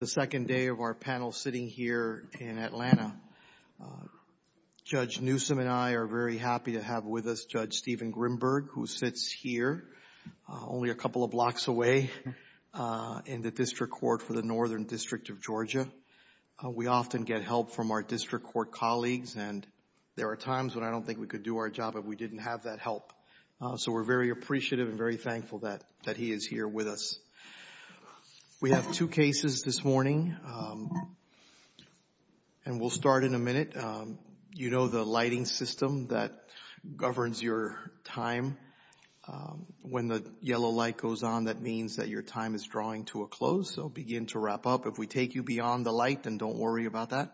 The second day of our panel sitting here in Atlanta, Judge Newsom and I are very happy to have with us Judge Steven Grimberg, who sits here only a couple of blocks away in the District Court for the Northern District of Georgia. We often get help from our District Court colleagues, and there are times when I don't think we could do our job if we didn't have that help. So we're very appreciative and very thankful that he is here with us. We have two cases this morning, and we'll start in a minute. You know the lighting system that governs your time. When the yellow light goes on, that means that your time is drawing to a close, so begin to wrap up. If we take you beyond the light, then don't worry about that.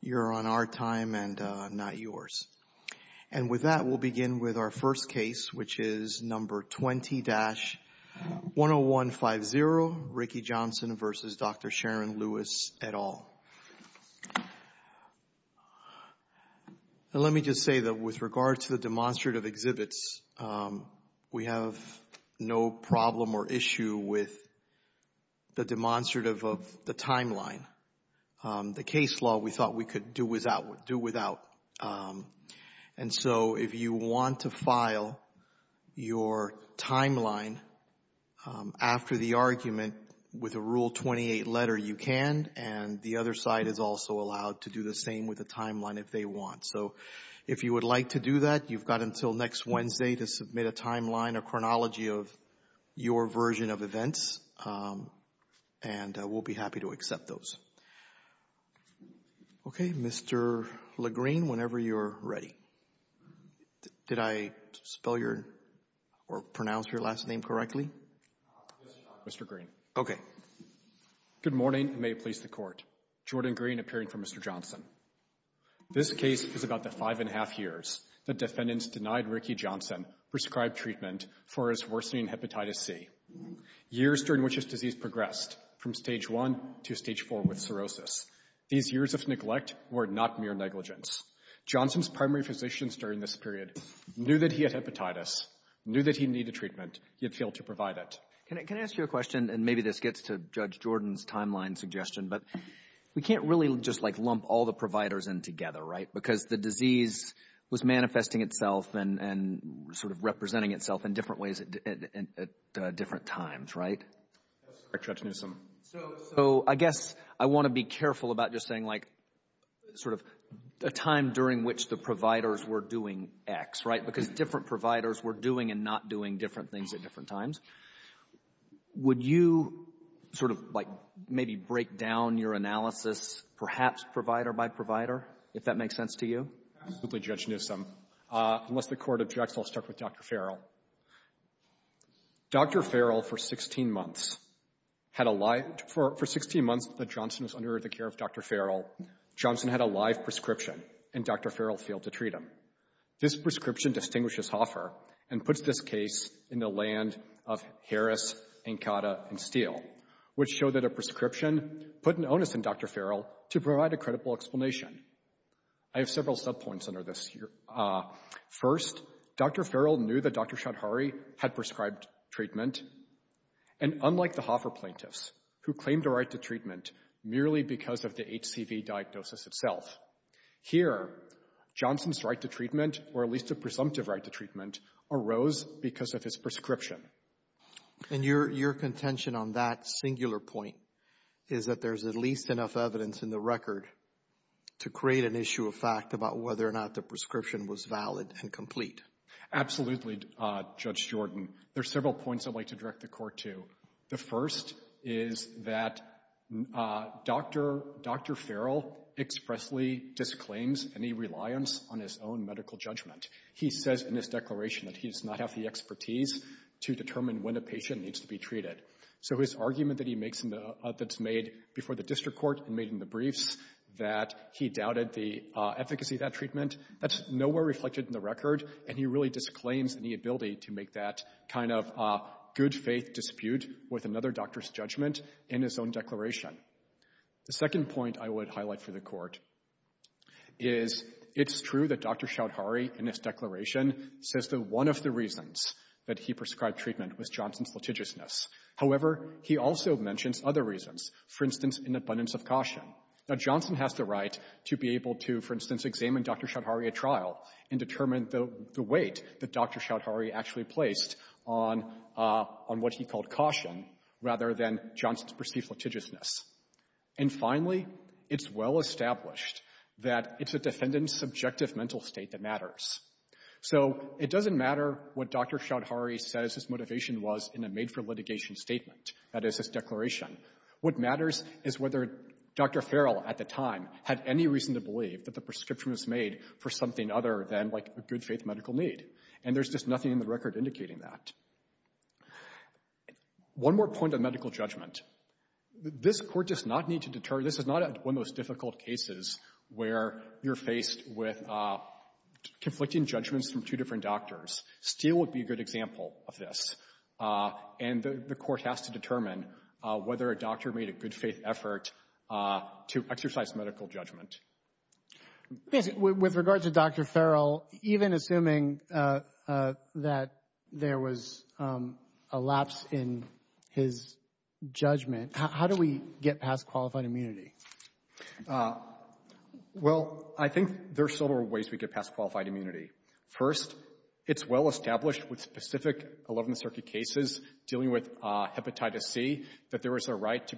You're on our time and not yours. And with that, we'll begin with our first case, which is number 20-10150, Ricky Johnson v. Dr. Sharon Lewis, et al. Now let me just say that with regard to the demonstrative exhibits, we have no problem or issue with the demonstrative of the timeline. The case law, we thought we could do without. And so if you want to file your timeline after the argument with a Rule 28 letter, you can, and the other side is also allowed to do the same with the timeline if they want. So if you would like to do that, you've got until next Wednesday to submit a timeline, a chronology of your version of events, and we'll be happy to accept those. Okay. Mr. LaGreene, whenever you're ready. Did I spell your or pronounce your last name correctly? Yes, Your Honor. Mr. LaGreene. Okay. Good morning, and may it please the Court. Jordan LaGreene, appearing for Mr. Johnson. This case is about the five and a half years that defendants denied Ricky Johnson prescribed treatment for his worsening hepatitis C. Years during which his disease progressed, from stage four with cirrhosis. These years of neglect were not mere negligence. Johnson's primary physicians during this period knew that he had hepatitis, knew that he needed treatment, yet failed to provide it. Can I ask you a question, and maybe this gets to Judge Jordan's timeline suggestion, but we can't really just like lump all the providers in together, right? Because the disease was manifesting itself and sort of representing itself in different ways at different times, right? That's correct, Judge Newsom. So I guess I want to be careful about just saying like sort of a time during which the providers were doing X, right? Because different providers were doing and not doing different things at different times. Would you sort of like maybe break down your analysis, perhaps provider by provider, if that makes sense to you? Absolutely, Judge Newsom. Unless the Court objects, I'll start with Dr. Farrell. Dr. Farrell, for 16 months that Johnson was under the care of Dr. Farrell, Johnson had a live prescription, and Dr. Farrell failed to treat him. This prescription distinguishes Hoffer and puts this case in the land of Harris, Ankada, and Steele, which showed that a prescription put an onus on Dr. Farrell to provide a credible explanation. I have several subpoints under this. First, Dr. Farrell knew that Dr. Shadhari had prescribed treatment, and unlike the Hoffer plaintiffs, who claimed a right to treatment merely because of the HCV diagnosis itself. Here, Johnson's right to treatment, or at least a presumptive right to treatment, arose because of his prescription. And your contention on that singular point is that there's at least enough evidence in the record to create an issue of fact about whether or not the prescription was valid and complete. Absolutely, Judge Jordan. There are several points I'd like to direct the Court to. The first is that Dr. Farrell expressly disclaims any reliance on his own medical judgment. He says in his declaration that he does not have the expertise to determine when a patient needs to be treated. So his argument that he makes in the, that's made before the District Court and made in the briefs, that he doubted the efficacy of that treatment, that's nowhere reflected in the record, and he really disclaims any ability to make that kind of good faith dispute with another doctor's judgment in his own declaration. The second point I would highlight for the Court is it's true that Dr. Choudhury, in his declaration, says that one of the reasons that he prescribed treatment was Johnson's litigiousness. However, he also mentions other reasons, for instance, an abundance of caution. Now, Johnson has the right to be able to, for instance, examine Dr. Choudhury at trial and determine the weight that Dr. Choudhury actually placed on what he called caution rather than Johnson's perceived litigiousness. And finally, it's well established that it's a defendant's subjective mental state that matters. So it doesn't matter what Dr. Choudhury says his motivation was in a made-for-litigation statement, that is, his declaration. What matters is whether Dr. Farrell at the time had any reason to believe that the prescription was made for something other than, like, a good faith medical need. And there's just nothing in the record indicating that. One more point on medical judgment. This Court does not need to deter—this is not one of the most difficult cases where you're faced with conflicting judgments from two different doctors. Steele would be a good example of this. And the Court has to determine whether a doctor made a good faith effort to exercise medical judgment. With regard to Dr. Farrell, even assuming that there was a lapse in his judgment, how do we get past qualified immunity? Well, I think there are several ways we get past qualified immunity. First, it's well established, more generally, that there was a right to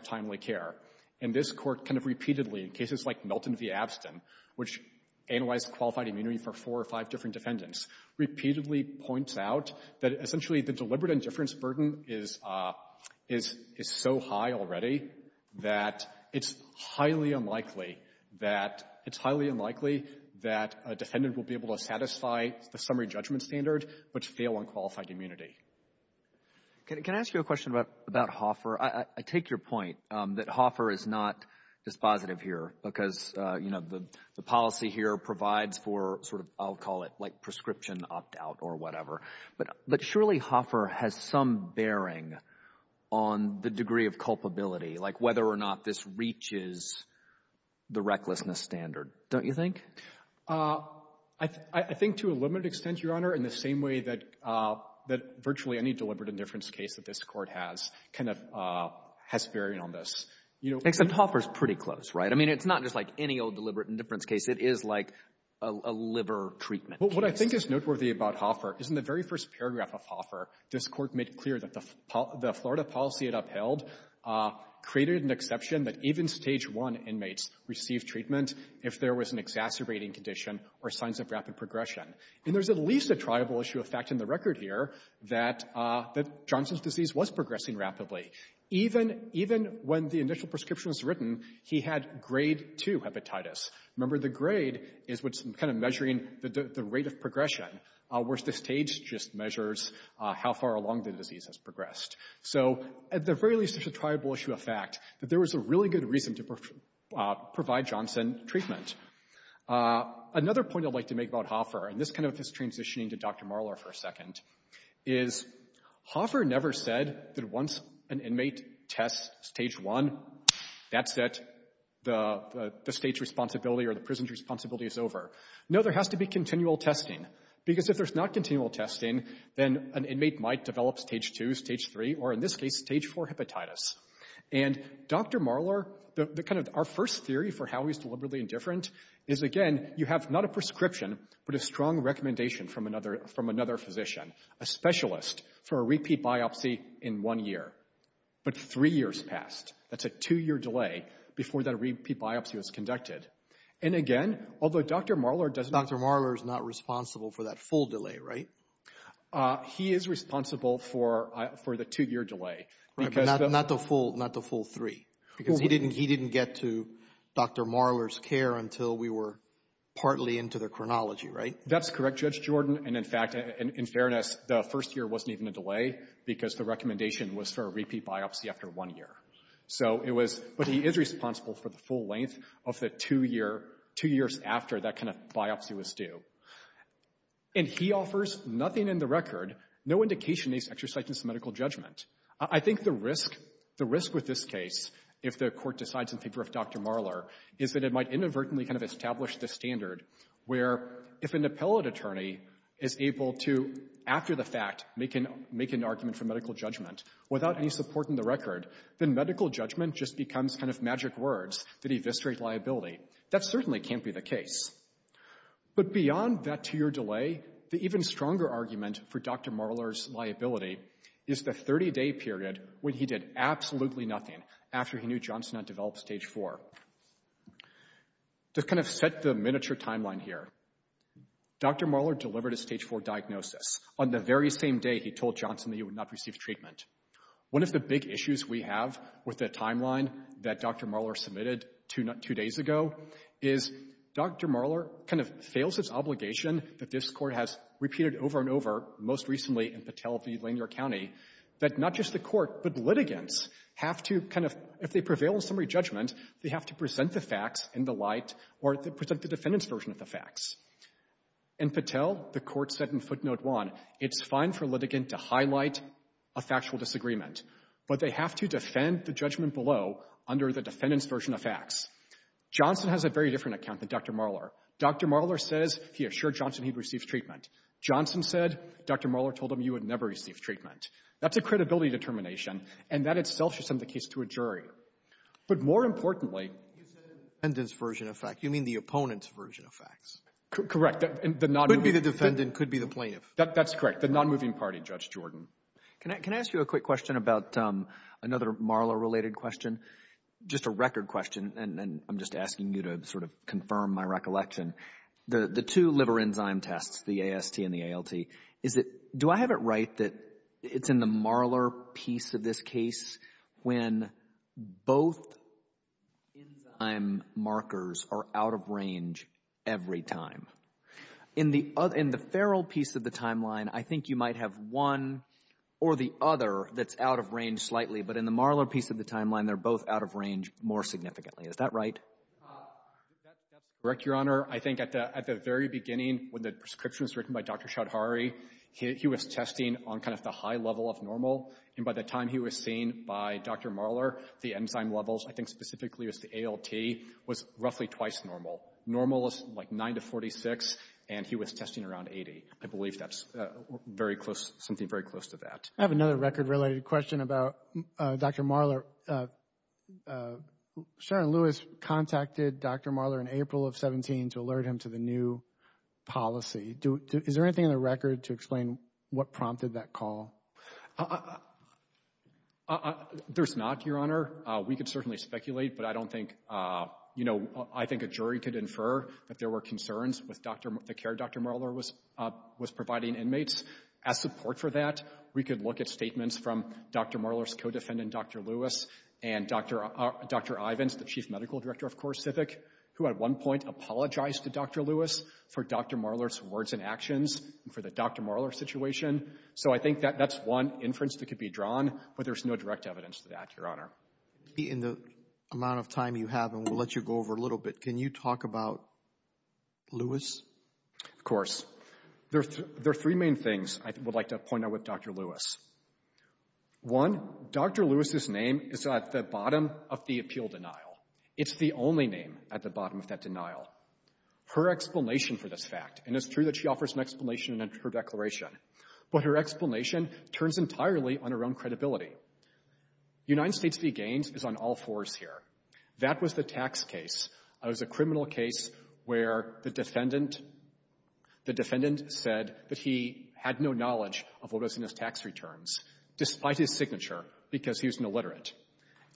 timely care. And this Court kind of repeatedly, in cases like Melton v. Abstin, which analyzed qualified immunity for four or five different defendants, repeatedly points out that essentially the deliberate indifference burden is so high already that it's highly unlikely that—it's highly unlikely that a defendant will be able to satisfy the summary judgment standard but fail on qualified immunity. Can I ask you a question about Hofer? I take your point that Hofer is not dispositive here because, you know, the policy here provides for sort of—I'll call it like prescription opt-out or whatever. But surely Hofer has some bearing on the degree of culpability, like whether or not this reaches the recklessness standard, don't you think? I think to a limited extent, Your Honor, in the same way that virtually any deliberate indifference case that this Court has kind of has bearing on this. You know— Except Hofer's pretty close, right? I mean, it's not just like any old deliberate indifference case. It is like a liver treatment case. Well, what I think is noteworthy about Hofer is in the very first paragraph of Hofer, this Court made clear that the Florida policy it upheld created an exception that even Stage 1 inmates receive treatment if there was an exacerbating condition or signs of rapid progression. And there's at least a triable issue of fact in the record here that Johnson's disease was progressing rapidly. Even when the initial prescription was written, he had grade 2 hepatitis. Remember, the grade is what's kind of measuring the rate of progression, whereas the stage just measures how far along the disease has progressed. So at the very least, there's a triable issue of fact that there was a really good reason to provide Johnson treatment. Another point I'd like to make about Hofer, and this kind of is transitioning to Dr. Marler for a second, is Hofer never said that once an inmate tests Stage 1, that's it. The state's responsibility or the prison's responsibility is over. No, there has to be Stage 2, Stage 3, or in this case, Stage 4 hepatitis. And Dr. Marler, our first theory for how he's deliberately indifferent is again, you have not a prescription, but a strong recommendation from another physician, a specialist for a repeat biopsy in one year. But three years passed. That's a two-year delay before that repeat biopsy was conducted. And again, although Dr. Marler does not... for the two-year delay. Not the full three. Because he didn't get to Dr. Marler's care until we were partly into the chronology, right? That's correct, Judge Jordan. And in fact, in fairness, the first year wasn't even a delay because the recommendation was for a repeat biopsy after one year. But he is responsible for the full length of the two years after that kind of biopsy was due. And he offers nothing in the record, no indication he's exercising some medical judgment. I think the risk with this case, if the Court decides in favor of Dr. Marler, is that it might inadvertently kind of establish the standard where if an appellate attorney is able to, after the fact, make an argument for medical judgment without any support in the record, then medical judgment just becomes kind of magic words that eviscerate liability. That certainly can't be the case. But beyond that two-year delay, the even stronger argument for Dr. Marler's liability is the 30-day period when he did absolutely nothing after he knew Johnson had developed stage 4. To kind of set the miniature timeline here, Dr. Marler delivered his stage 4 diagnosis on the very same day he told Johnson that he would not receive treatment. One of the big issues we have with the timeline that Dr. Marler submitted two days ago is Dr. Marler kind of fails his obligation that this Court has repeated over and over, most recently in Patel v. Lanier County, that not just the Court, but litigants have to kind of, if they prevail on summary judgment, they have to present the facts in the light or present the defendant's version of the facts. In Patel, the Court said in footnote 1, it's fine for a litigant to highlight a factual disagreement, but they have to defend the judgment below under the defendant's version of facts. Johnson has a very different account than Dr. Marler. Dr. Marler says he assured Johnson he'd receive treatment. Johnson said Dr. Marler told him he would never receive treatment. That's a credibility determination, and that itself should send the case to a jury. But more importantly, you said the defendant's version of facts. You mean the opponent's version of facts. Correct. Could be the defendant, could be the plaintiff. That's correct. The non-moving party, Judge Jordan. Can I ask you a quick question about another Marler-related question? Just a record question, and I'm just asking you to sort of confirm my recollection. The two liver enzyme tests, the AST and the ALT, do I have it right that it's in the Marler piece of this case when both enzyme markers are out of range every time? In the Farrell piece of the timeline, I think you might have one or the other that's out of range slightly, but in the Marler piece of the timeline, they're both out of range more significantly. Is that right? That's correct, Your Honor. I think at the very beginning, when the prescription was written by Dr. Shadhari, he was testing on kind of the high level of normal, and by the time he was seen by Dr. Marler, the enzyme levels, I think specifically it was the ALT, was roughly twice normal. Normal is like 9 to 46, and he was testing around 80. I believe that's something very close to that. I have another record-related question about Dr. Marler. Sharon Lewis contacted Dr. Marler in April of 17 to alert him to the new policy. Is there anything in the record to explain what prompted that call? There's not, Your Honor. We could certainly speculate, but I don't think, you know, I think a jury could infer that there were concerns with the care Dr. Marler was providing inmates. As support for that, we could look at statements from Dr. Marler's co-defendant, Dr. Lewis, and Dr. Ivins, the chief medical director of CoreCivic, who at one point apologized to Dr. Lewis for Dr. Marler's words and actions and for the Dr. Marler situation. So I think that that's one inference that could be drawn, but there's no direct evidence to that, Your Honor. In the amount of time you have, and we'll let you go over a little bit, can you talk about Lewis? Of course. There are three main things I would like to point out with Dr. Lewis. One, Dr. Lewis's name is at the bottom of the appeal denial. It's the only name at the bottom of that denial. Her explanation for this fact, and it's true that she offers an explanation in her declaration, but her explanation turns entirely on her own credibility. United States v. Gaines is on all fours here. That was the tax case. It was a criminal case where the defendant said that he had no knowledge of what was in his tax returns, despite his signature, because he was an illiterate.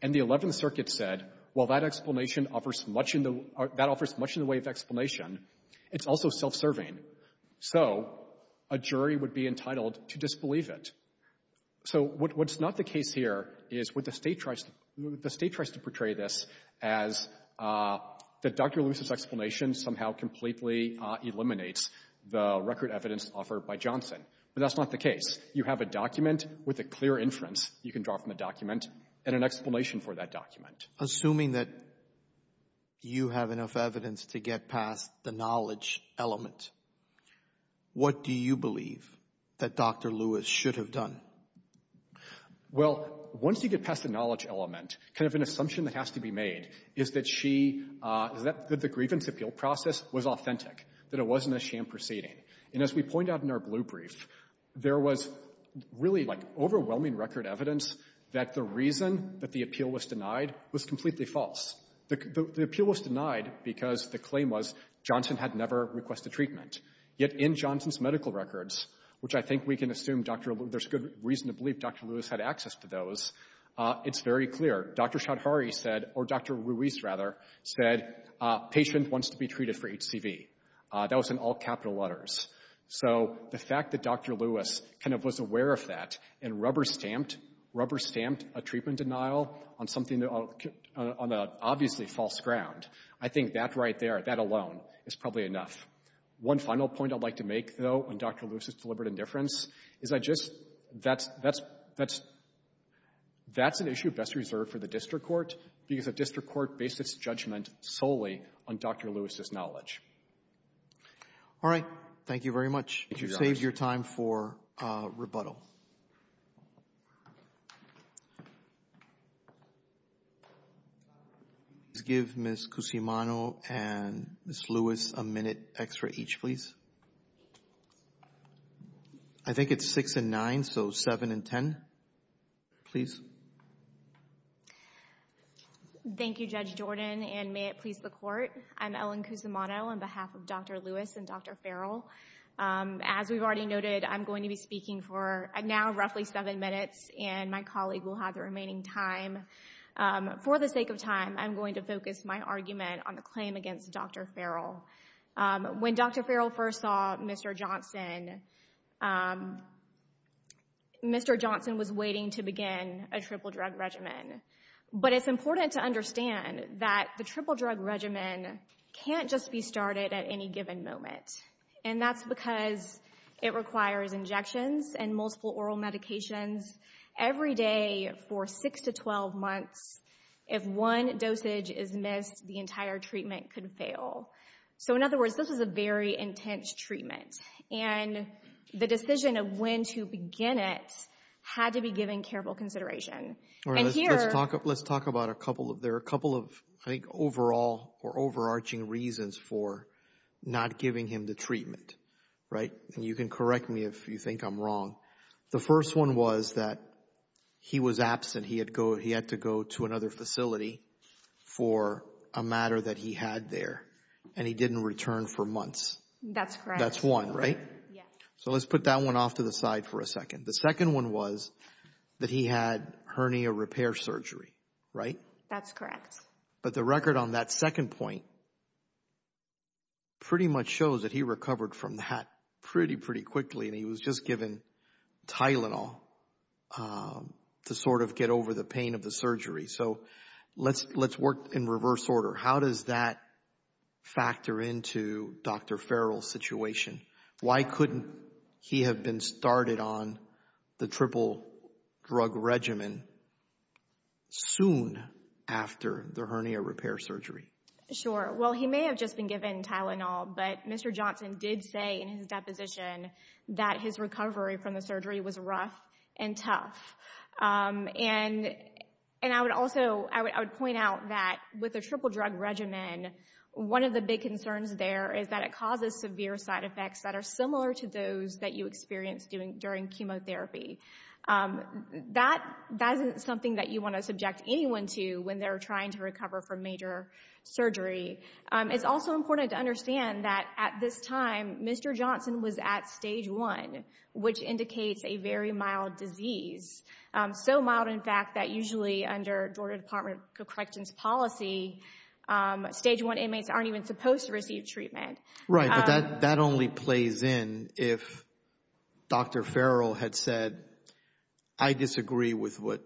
And the Eleventh Circuit said, well, that explanation offers much in the way of explanation. It's also self-serving. So a jury would be entitled to disbelieve it. So what's not the case here is what the State tries to portray this as is that Dr. Lewis's explanation somehow completely eliminates the record evidence offered by Johnson. But that's not the case. You have a document with a clear inference you can draw from the document and an explanation for that document. Assuming that you have enough evidence to get past the knowledge element, what do you believe that Dr. Lewis should have done? Well, once you get past the knowledge element, kind of an assumption that has to be made is that she, that the grievance appeal process was authentic, that it wasn't a sham proceeding. And as we point out in our blue brief, there was really like overwhelming record evidence that the reason that the appeal was denied was completely false. The appeal was denied because the claim was Johnson had never requested treatment. Yet in Johnson's medical records, which I think we can assume there's good reason to believe Dr. Lewis had access to those, it's very clear. Dr. Shadhari said, or Dr. Ruiz rather, said patient wants to be treated for HCV. That was in all capital letters. So the fact that Dr. Lewis kind of was aware of that and rubber-stamped a treatment denial on something that, on obviously false ground, I think that right there, that alone is probably enough. One final point I'd like to make, though, on Dr. Lewis's deliberate indifference is I just, that's an issue best reserved for the district court because the district court based its judgment solely on Dr. Lewis's knowledge. All right. Thank you very much. You saved your time for rebuttal. Please give Ms. Cusimano and Ms. Lewis a minute extra each, please. I think it's six and nine, so seven and ten, please. Thank you, Judge Jordan, and may it please the court. I'm Ellen Cusimano on behalf of Dr. Lewis and Dr. Farrell. As we've already noted, I'm going to be speaking for now roughly seven minutes, and my colleague will have the remaining time. For the sake of time, I'm going to focus my argument on the claim against Dr. Farrell. When Dr. Farrell first saw Mr. Johnson, Mr. Johnson was waiting to begin a triple drug regimen. But it's important to understand that the triple drug regimen can't just be started at any given moment. And that's because it requires injections and multiple oral medications every day for six to 12 months. If one dosage is missed, the entire treatment could fail. So in other words, this is a very intense treatment, and the decision of when to begin it had to be given careful consideration. Let's talk about a couple of, there are a couple of I think overall or overarching reasons for not giving him the treatment, right? And you can correct me if you think I'm wrong. The first one was that he was absent. He had to go to another facility for a matter that he had there, and he didn't return for months. That's correct. That's one, right? Yes. So let's put that one off to the side for a second. The second one was that he had hernia repair surgery, right? That's correct. But the record on that second point pretty much shows that he recovered from that pretty, pretty quickly, and he was just given Tylenol to sort of get over the pain of the surgery. So let's work in reverse order. How does that factor into Dr. Farrell's situation? Why couldn't he have been started on the triple drug regimen soon after the hernia repair surgery? Sure. Well, he may have just been given Tylenol, but Mr. Johnson did say in his deposition that his recovery from the surgery was rough and tough. And I would also, I would point out that with a triple drug regimen, there are other side effects that are similar to those that you experience during chemotherapy. That isn't something that you want to subject anyone to when they're trying to recover from major surgery. It's also important to understand that at this time, Mr. Johnson was at stage one, which indicates a very mild disease. So mild, in fact, that usually under treatment. Right. But that only plays in if Dr. Farrell had said, I disagree with what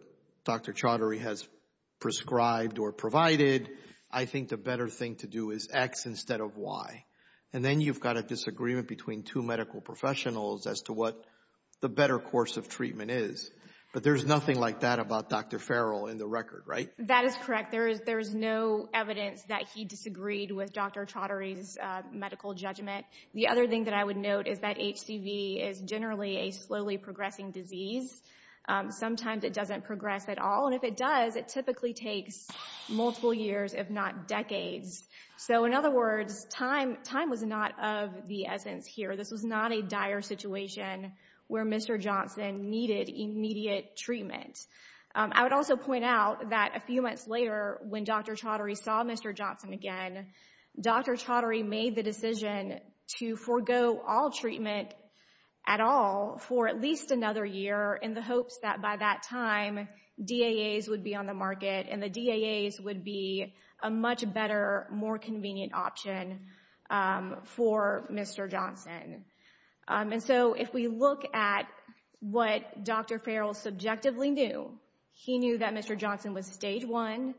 Dr. Chaudhary has prescribed or provided. I think the better thing to do is X instead of Y. And then you've got a disagreement between two medical professionals as to what the better course of treatment is. But there's nothing like that about Dr. Farrell in the record, right? That is correct. There is no evidence that he disagreed with Dr. Chaudhary's medical judgment. The other thing that I would note is that HCV is generally a slowly progressing disease. Sometimes it doesn't progress at all. And if it does, it typically takes multiple years, if not decades. So in other words, time was not of the essence here. This was not a dire situation where Mr. Johnson needed immediate treatment. I would also point out that a few months later, when Dr. Chaudhary saw Mr. Johnson again, Dr. Chaudhary made the decision to forego all treatment at all for at least another year in the hopes that by that time, DAAs would be on the market and the DAAs would be a much better, more convenient option for Mr. Johnson. And so if we look at what Dr. Farrell subjectively knew, he knew that Mr. Johnson was stage one.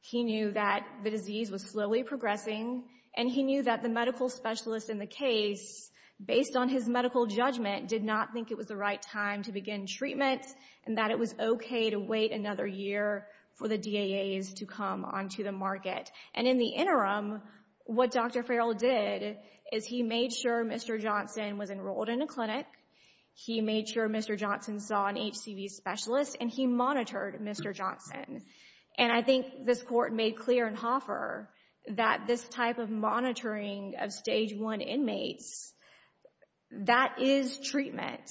He knew that the disease was slowly progressing. And he knew that the medical specialist in the case, based on his medical judgment, did not think it was the right time to begin treatment and that it was okay to wait another year for the DAAs to come onto the market. And in the interim, what Dr. Farrell did is he made sure Mr. Johnson was enrolled in a clinic. He made sure Mr. Johnson saw an HCV specialist and he monitored Mr. Johnson. And I think this Court made clear in Hoffer that this type of monitoring of stage one inmates, that is treatment.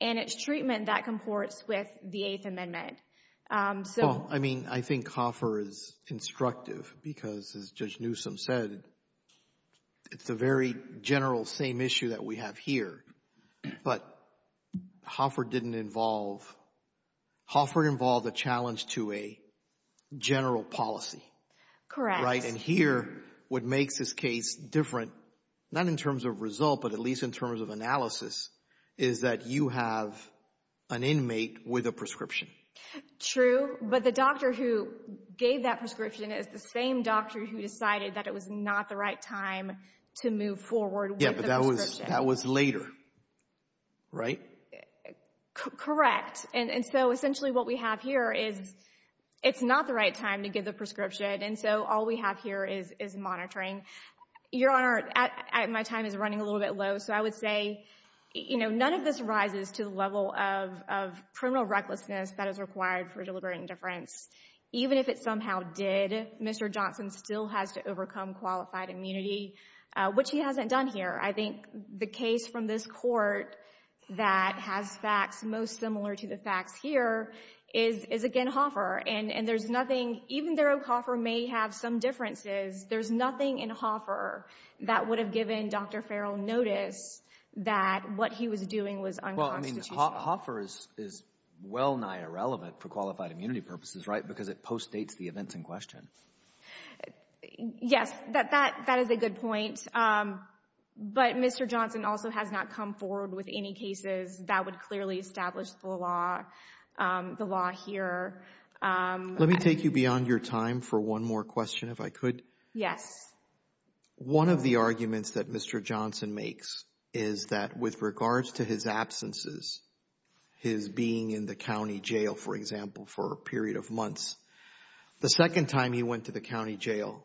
And it's treatment that comports with the Eighth Amendment. Well, I mean, I think Hoffer is instructive because as Judge Newsom said, it's a very general same issue that we have here. But Hoffer didn't involve, Hoffer involved a challenge to a general policy. Correct. And here, what makes this case different, not in terms of result, but at least in terms of analysis, is that you have an inmate with a prescription. True, but the doctor who gave that prescription is the same doctor who decided that it was not the right time to move forward with the prescription. Yeah, but that was later, right? Correct. And so essentially what we have here is it's not the right time to give the prescription. And so all we have here is monitoring. Your Honor, my time is running a little bit low, so I would say, you know, none of this rises to the level of criminal recklessness that is required for deliberate indifference. Even if it somehow did, Mr. Johnson still has to overcome qualified immunity, which he hasn't done here. I think the case from this Court that has facts most similar to the facts here is, again, Hoffer. And there's nothing, even though Hoffer may have some differences, there's nothing in Hoffer that would have given Dr. Farrell notice that what he was doing was unconstitutional. Well, I mean, Hoffer is well nigh irrelevant for qualified immunity purposes, right, because it postdates the events in question. Yes, that is a good point. But Mr. Johnson also has not come forward with any cases that would clearly establish the law here. Let me take you beyond your time for one more question, if I could. Yes. One of the arguments that Mr. Johnson makes is that with regards to his absences, his being in the county jail, for example, for a period of months, the second time he went to the county jail,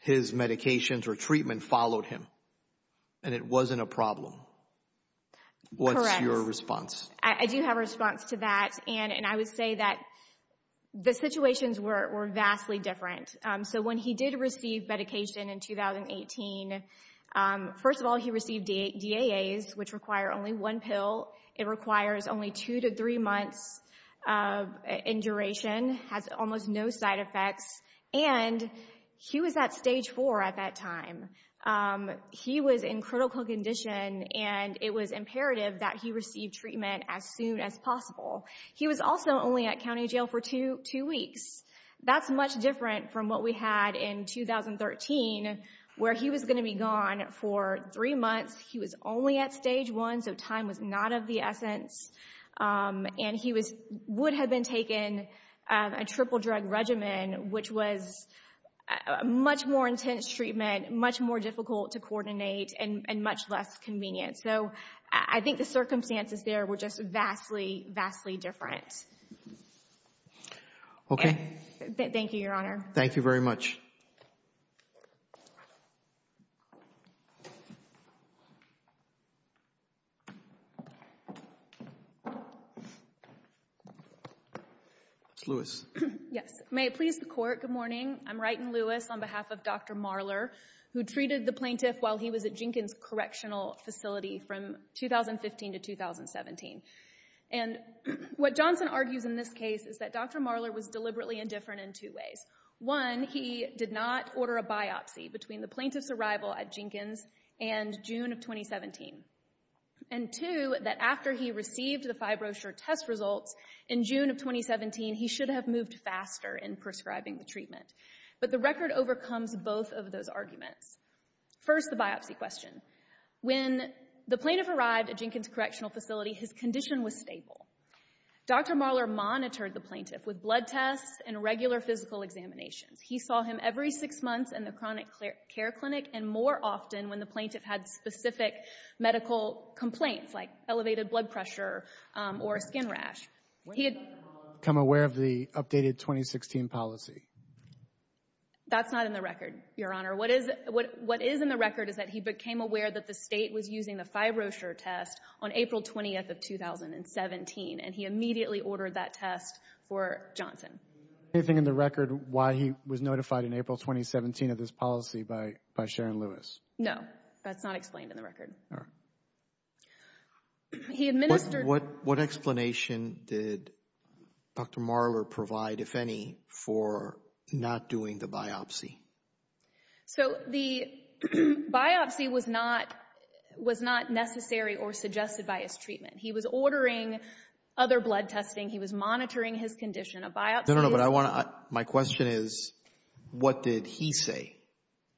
his medications or treatment followed him, and it wasn't a problem. Correct. What's your response? I do have a response to that, and I would say that the situations were vastly different. So when he did receive medication in 2018, first of all, he received DAAs, which require only one pill. It requires only two to three months in duration, has almost no side effects, and he was at stage four at that time. He was in critical condition, and it was imperative that he receive treatment as soon as possible. He was also only at county jail for two weeks. That's much different from what we had in 2013, where he was going to be gone for three months. He was only at stage one, so time was not of the essence, and he would have been taken a triple drug regimen, which was much more intense treatment, much more difficult to coordinate, and much less convenient. So I think the circumstances there were just vastly, vastly different. Okay. Thank you, Your Honor. Thank you very much. Ms. Lewis. Yes. May it please the Court, good morning. I'm Wrighton Lewis on behalf of Dr. Marler, who treated the plaintiff while he was at Jenkins Correctional Facility from 2015 to 2017. And what Johnson argues in this case is that Dr. Marler was deliberately indifferent in two ways. One, he did not order a biopsy between the plaintiff's arrival at Jenkins and June of 2017. And two, that after he received the fibrosure test results in June of 2017, he should have moved faster in prescribing the treatment. But the record overcomes both of those arguments. First, the biopsy question. When the plaintiff arrived at Jenkins Correctional Facility, his condition was stable. Dr. Marler monitored the plaintiff with blood tests and regular physical examinations. He saw him every six months in the chronic care clinic and more often when the plaintiff had specific medical complaints, like elevated blood pressure or skin rash. Would Dr. Marler have become aware of the updated 2016 policy? That's not in the record, Your Honor. What is in the record is that he became aware that the state was using the fibrosure test on April 20th of 2017 and he immediately ordered that test for Johnson. Anything in the record why he was notified in April 2017 of this policy by Sharon Lewis? No, that's not explained in the record. He administered... What explanation did Dr. Marler provide, if any, for not doing the biopsy? So the biopsy was not necessary or suggested by his treatment. He was ordering other blood testing. He was monitoring his condition. A biopsy is... No, no, no. But I want to... My question is, what did he say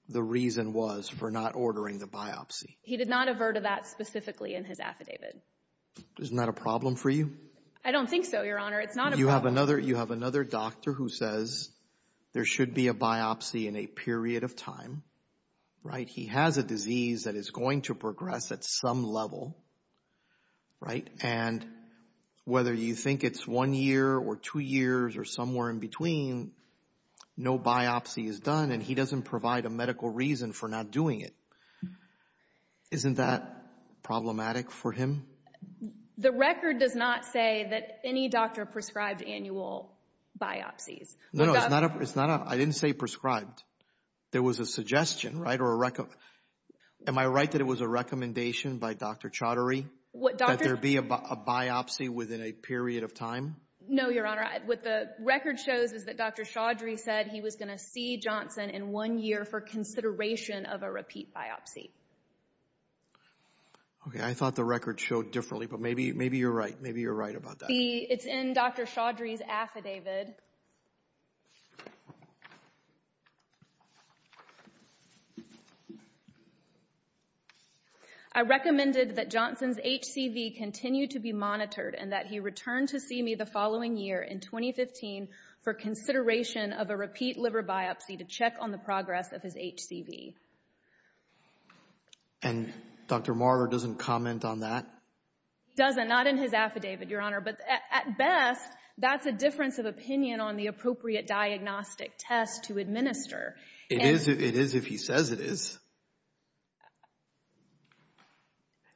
the reason was for not ordering the biopsy? He did not avert that specifically in his affidavit. Isn't that a problem for you? I don't think so, Your Honor. It's not a problem. You have another doctor who says there should be a biopsy in a period of time, right? He has a disease that is going to progress at some level, right? And whether you think it's one year or two years or somewhere in between, no biopsy is done and he doesn't provide a medical reason for not doing it. Isn't that one of the prescribed annual biopsies? No, it's not a... I didn't say prescribed. There was a suggestion, right? Or a... Am I right that it was a recommendation by Dr. Chaudhary that there be a biopsy within a period of time? No, Your Honor. What the record shows is that Dr. Chaudhary said he was going to see Johnson in one year for consideration of a repeat biopsy. Okay, I thought the record showed differently, but maybe you're right. Maybe you're right about that. It's in Dr. Chaudhary's affidavit. I recommended that Johnson's HCV continue to be monitored and that he return to see me the following year in 2015 for consideration of a repeat biopsy. And Dr. Marler doesn't comment on that? He doesn't. Not in his affidavit, Your Honor. But at best, that's a difference of opinion on the appropriate diagnostic test to administer. It is if he says it is.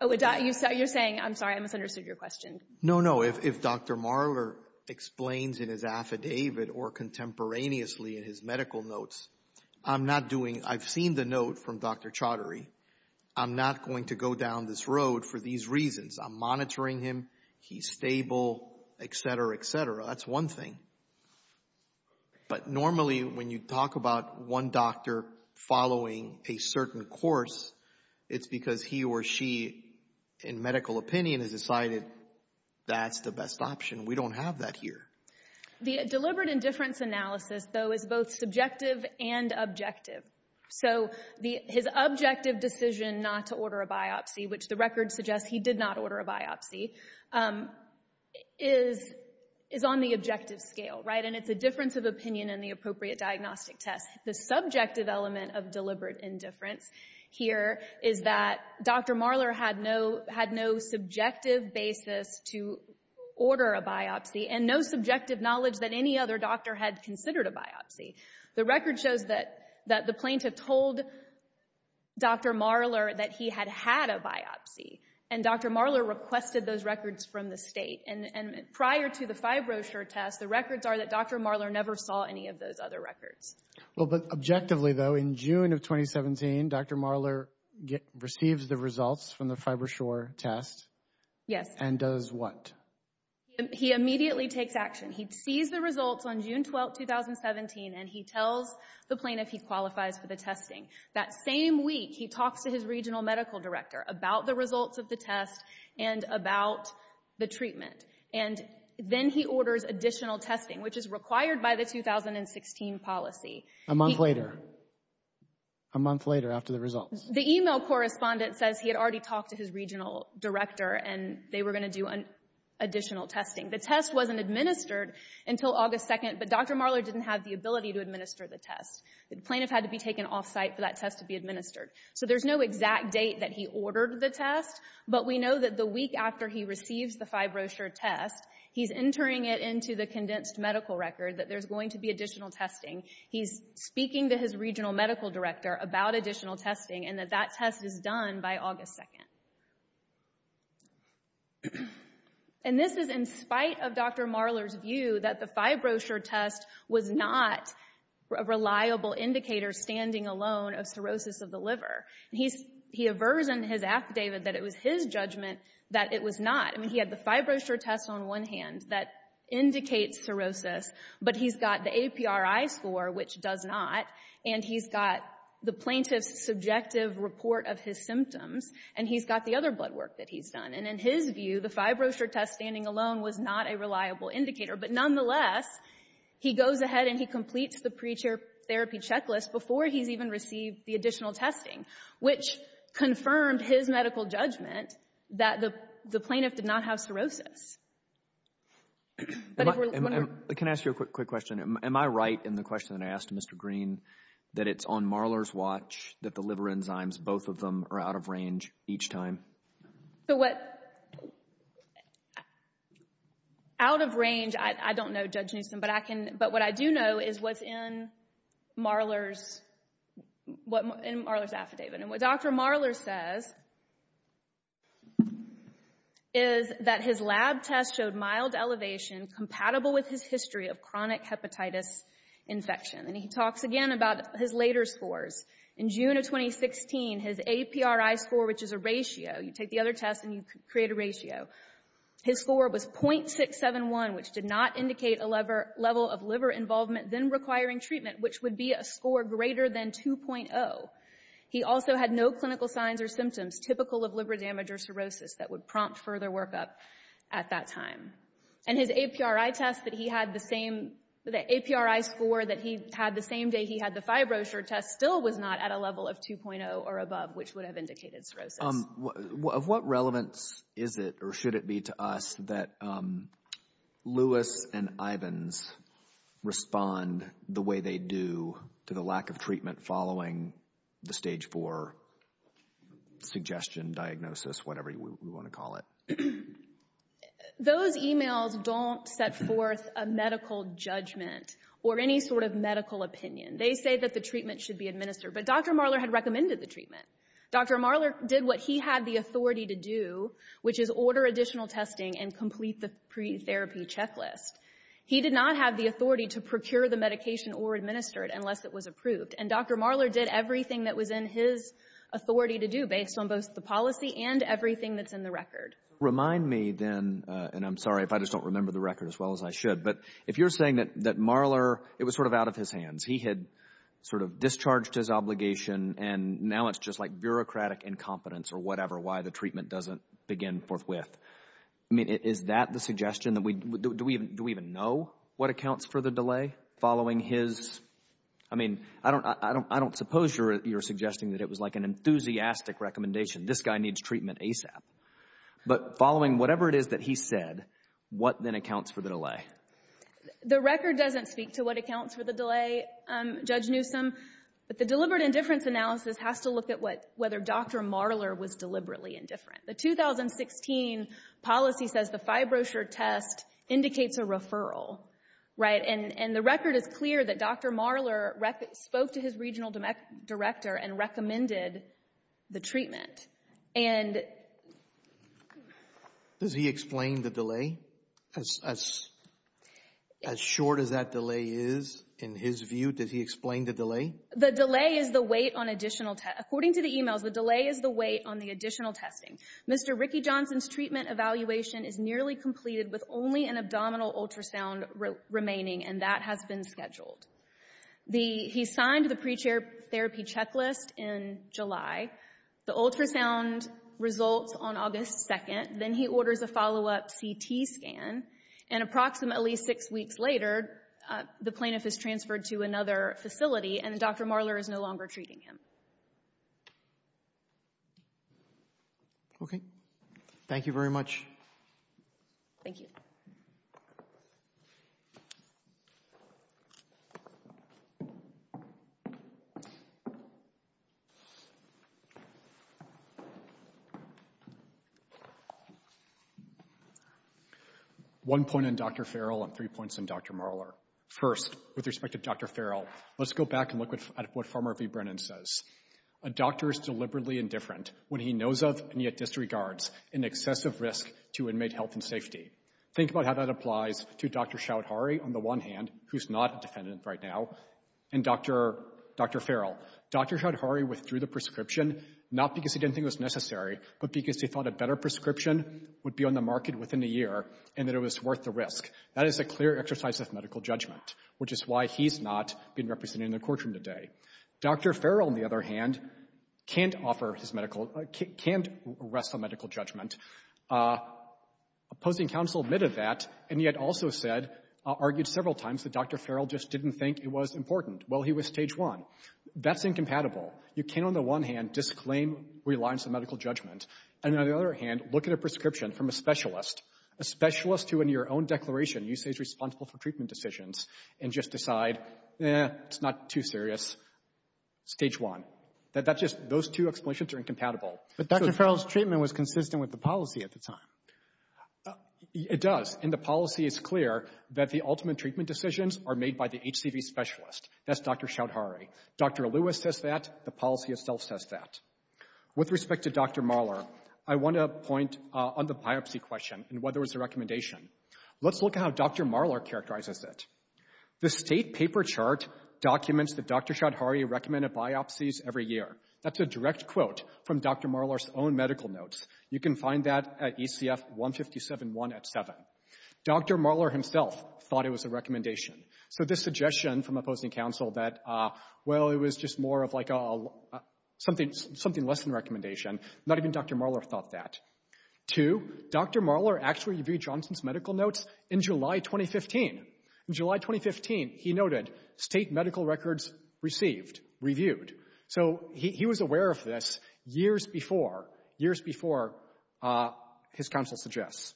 You're saying... I'm sorry. I misunderstood your question. No, no. If Dr. Marler explains in his affidavit or contemporaneously in his medical notes, I'm not doing... I've seen the note from Dr. Chaudhary. I'm not going to go down this road for these reasons. I'm monitoring him. He's stable, etc., etc. That's one thing. But normally when you talk about one doctor following a certain course, it's because he or she, in medical opinion, has decided that's the best option. We don't have that here. The deliberate indifference analysis, though, is both subjective and objective. So his objective decision not to order a biopsy, which the record suggests he did not order a biopsy, is on the objective scale, right? And it's a difference of opinion in the appropriate diagnostic test. The subjective element of deliberate indifference here is that Dr. Marler had no subjective basis to order a biopsy and no subjective knowledge that any other doctor had considered a biopsy. The record shows that the plaintiff told Dr. Marler that he had had a biopsy. And Dr. Marler requested those records from the state. And prior to the FibroTest, the records are that Dr. Marler never saw any of those other records. Well, but objectively, though, in June of 2017, Dr. Marler received the results from the FibroTest. Yes. And does what? He immediately takes action. He sees the results on June 12, 2017, and he tells the plaintiff he qualifies for the testing. That same week, he talks to his regional medical director about the results of the test and about the treatment. And then he orders additional testing, which is required by the 2016 policy. A month later. A month later after the results. The email correspondent says he had already talked to his regional director and they were going to do additional testing. The test wasn't administered until August 2nd, but Dr. Marler didn't have the ability to administer the test. The plaintiff had to be taken off-site for that test to be administered. So there's no exact date that he ordered the test, but we know that the week after he receives the FibroTest, he's entering it into the condensed medical record that there's going to be additional testing. He's speaking to his regional medical director about additional testing and that that test is done by August 2nd. And this is in spite of Dr. Marler's view that the FibroTest was not a reliable indicator, standing alone, of cirrhosis of the liver. He aversions his affidavit that it was his judgment that it was not. I mean, he had the FibroTest on one hand that indicates cirrhosis, but he's got the APRI score, which does not, and he's got the plaintiff's subjective report of his symptoms, and he's got the other blood work that he's done. And in his view, the FibroTest standing alone was not a reliable indicator. But nonetheless, he goes ahead and he completes the pre-treatment therapy checklist before he's even received the additional testing, which confirmed his medical judgment that the plaintiff did not have cirrhosis. Can I ask you a quick question? Am I right in the question that I asked Mr. Green that it's on Marler's watch that the liver enzymes, both of them, are out of range each time? So what... Out of range, I don't know, Judge Newsom, but what I do know is what's in Marler's affidavit. And what Dr. Marler says is that his lab test showed mild elevation compatible with his history of chronic hepatitis infection. And he talks again about his later scores. In June of 2016, his APRI score, which is a ratio, you take the other test and you create a ratio, his score was .671, which did not indicate a level of liver involvement then requiring treatment, which would be a score greater than 2.0. He also had no clinical signs or symptoms typical of liver damage or cirrhosis that would prompt further workup at that time. And his APRI test that he had the same, the APRI score that he had the same day he had the fibrosur test still was not at a level of 2.0 or above, which would have indicated cirrhosis. Of what relevance is it or should it be to us that Lewis and Ivins respond the way they do to the lack of treatment following the stage four suggestion, diagnosis, whatever you want to call it? Those emails don't set forth a medical judgment or any sort of medical opinion. They say that the treatment should be administered. But Dr. Marler had recommended the treatment. Dr. Marler did what he had the authority to do, which is order additional testing and complete the pre-therapy checklist. He did not have the authority to procure the medication or administer it unless it was approved. And Dr. Marler did everything that was in his authority to do based on both the policy and everything that's in the record. Remind me then, and I'm sorry if I just don't remember the record as well as I should, but if you're saying that Marler, it was sort of out of his hands. He had sort of discharged his obligation and now it's just like bureaucratic incompetence or whatever, why the treatment doesn't begin forthwith. I mean, is that the suggestion? Do we even know what accounts for the delay? Following his, I mean, I don't suppose you're suggesting that it was like an enthusiastic recommendation. This guy needs treatment ASAP. But following whatever it is that he said, what then accounts for the delay? The record doesn't speak to what accounts for the delay, Judge Newsom. But the deliberate indifference analysis has to look at whether Dr. Marler was deliberately indifferent. The 2016 policy says the FibroTest indicates a referral. And the record is clear that Dr. Marler spoke to his regional director and recommended the treatment. Does he explain the delay? As short as that delay is in his view, does he explain the delay? The delay is the weight on additional, according to the emails, the delay is the weight on the additional testing. Mr. Ricky Johnson's treatment evaluation is nearly completed with only an abdominal ultrasound remaining, and that has been scheduled. He signed the pre-therapy checklist in July. The ultrasound results on August 2nd. Then he orders a follow-up CT scan. And approximately six weeks later, the plaintiff is transferred to another facility, and Dr. Marler is no longer treating him. Okay. Thank you very much. Thank you. One point on Dr. Farrell and three points on Dr. Marler. First, with respect to Dr. Farrell, let's go back and look at what Farmer v. Brennan says. A doctor is deliberately indifferent when he knows of, and yet disregards, an excessive risk to inmate health and safety. Think about how that applies to Dr. Chaudhari, on the one hand, who's not a defendant right now, and Dr. Farrell. Dr. Chaudhari withdrew the prescription, not because he didn't think it was necessary, but because he thought a better prescription would be on the market within a year, and that it was worth the risk. That is a clear exercise of medical judgment, which is why he's not being represented in the courtroom today. Dr. Farrell, on the other hand, can't arrest a medical judgment. Opposing counsel admitted that, and yet also argued several times that Dr. Farrell just didn't think it was important. Well, he was stage one. That's incompatible. You can't, on the one hand, disclaim reliance on medical judgment, and on the other hand, look at a prescription from a specialist, a specialist who, in your own declaration, you say is responsible for treatment decisions, and just decide, eh, it's not too serious. Stage one. Those two explanations are incompatible. But Dr. Farrell's treatment was consistent with the policy at the time. It does, and the policy is clear that the ultimate treatment decisions are made by the HCV specialist. That's Dr. Choudhury. Dr. Lewis says that. The policy itself says that. With respect to Dr. Marler, I want to point on the biopsy question and whether it was a recommendation. Let's look at how Dr. Marler characterizes it. The state paper chart documents that Dr. Choudhury recommended biopsies every year. That's a direct quote from Dr. Marler's own medical notes. You can find that at ECF 157.1 at 7. Dr. Marler himself thought it was a recommendation. So this suggestion from opposing counsel that, well, it was just more of like a something less than a recommendation, not even Dr. Marler thought that. Two, Dr. Marler actually reviewed Johnson's medical notes in July 2015. In July 2015, he noted state medical records received, reviewed. So he was aware of this years before, years before his counsel suggests.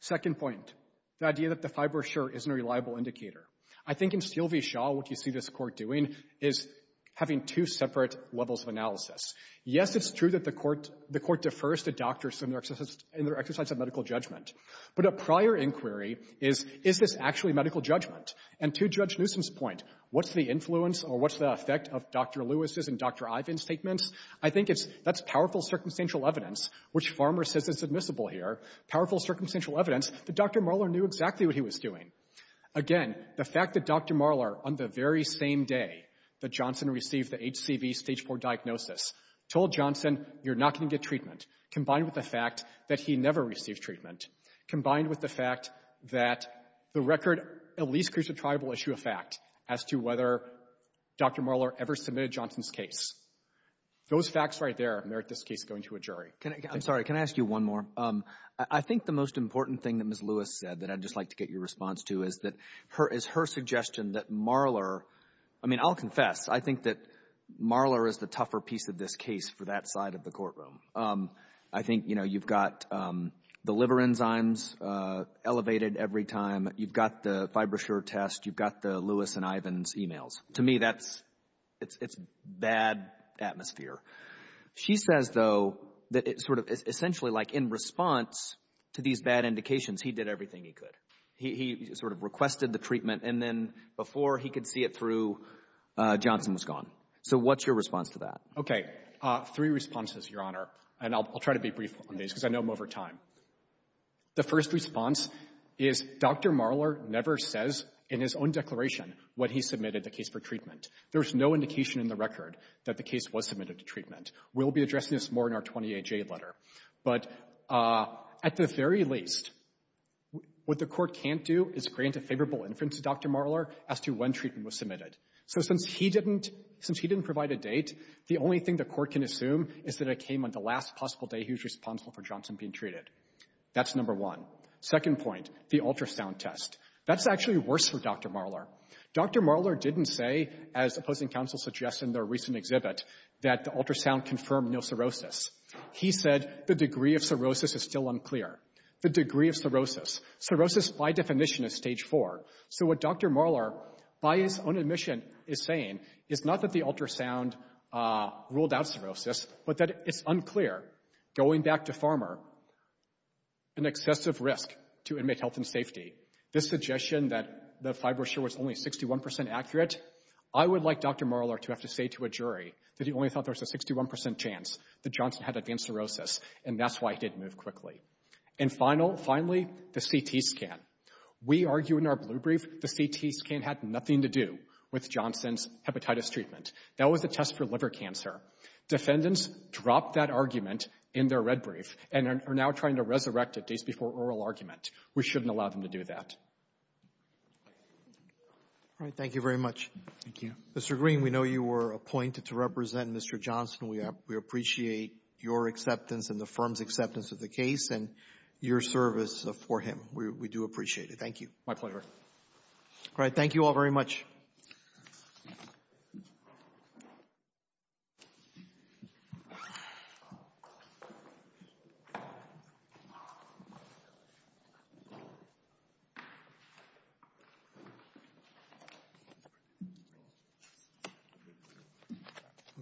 Second point, the idea that the fiber sure isn't a reliable indicator. I think in Sylvie Shaw, what you see this court doing is having two separate levels of analysis. Yes, it's true that the court defers to is this actually medical judgment? And to Judge Newsom's point, what's the influence or what's the effect of Dr. Lewis's and Dr. Ivan's statements? I think that's powerful circumstantial evidence, which Farmer says is admissible here, powerful circumstantial evidence that Dr. Marler knew exactly what he was doing. Again, the fact that Dr. Marler, on the very same day that Johnson received the HCV stage four diagnosis, told Johnson, you're not going to get treatment, combined with the fact that he never received treatment, combined with the fact that the record at least creates a triable issue of fact as to whether Dr. Marler ever submitted Johnson's case. Those facts right there merit this case going to a jury. I'm sorry, can I ask you one more? I think the most important thing that Ms. Lewis said that I'd just like to get your response to is her suggestion that Marler, I mean, I'll confess, I think that Marler is the tougher piece of this case for that side of the courtroom. I think, you know, you've got the liver enzymes elevated every time, you've got the fibrosure test, you've got the Lewis and Ivan's emails. To me, that's it's bad atmosphere. She says, though, that it's sort of essentially like in response to these bad indications, he did everything he could. He sort of requested the treatment, and then before he could see it through, Johnson was gone. So what's your response to that? Okay, three responses, Your Honor, and I'll try to be brief on these because I know I'm over time. The first response is Dr. Marler never says in his own declaration what he submitted the case for treatment. There's no indication in the record that the case was submitted to treatment. We'll be addressing this more in our 28-J letter. But at the very least, what the court can't do is grant a favorable inference to Dr. Marler as to when treatment was submitted. So since he didn't provide a date, the only thing the court can assume is that it came on the last possible day he was responsible for Johnson being treated. That's number one. Second point, the ultrasound test. That's actually worse for Dr. Marler. Dr. Marler didn't say, as opposing counsel suggested in their recent exhibit, that the ultrasound confirmed no cirrhosis. He said the degree of cirrhosis is still unclear. The degree of cirrhosis. Cirrhosis by definition is stage four. So what Dr. Marler, by his own admission, is saying is not that the ultrasound ruled out cirrhosis, but that it's unclear. Going back to Farmer, an excessive risk to inmate health and safety. This suggestion that the fibrosur was only 61% accurate, I would like Dr. Marler to have to say to a jury that he only thought there was a 61% chance that Johnson had advanced cirrhosis and that's why he didn't move quickly. And finally, the CT scan. We argue in our blue brief the CT scan had nothing to do with Johnson's hepatitis treatment. That was a test for liver cancer. Defendants dropped that argument in their red brief and are now trying to resurrect it days before oral argument. We shouldn't allow them to do that. Thank you very much. Thank you. Mr. Green, we know you were appointed to represent Mr. Johnson. We appreciate your acceptance and the firm's acceptance of the case and your service for him. We do appreciate it. Thank you. My pleasure. All right. Thank you all very much. Thank you.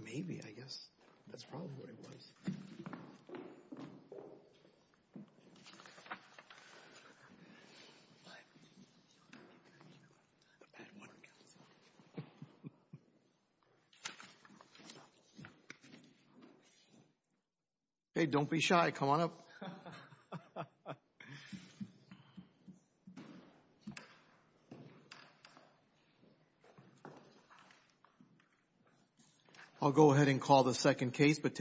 Maybe, I guess. That's probably what it was. Hey, don't be shy. Come on up. I'll go ahead and call the second case.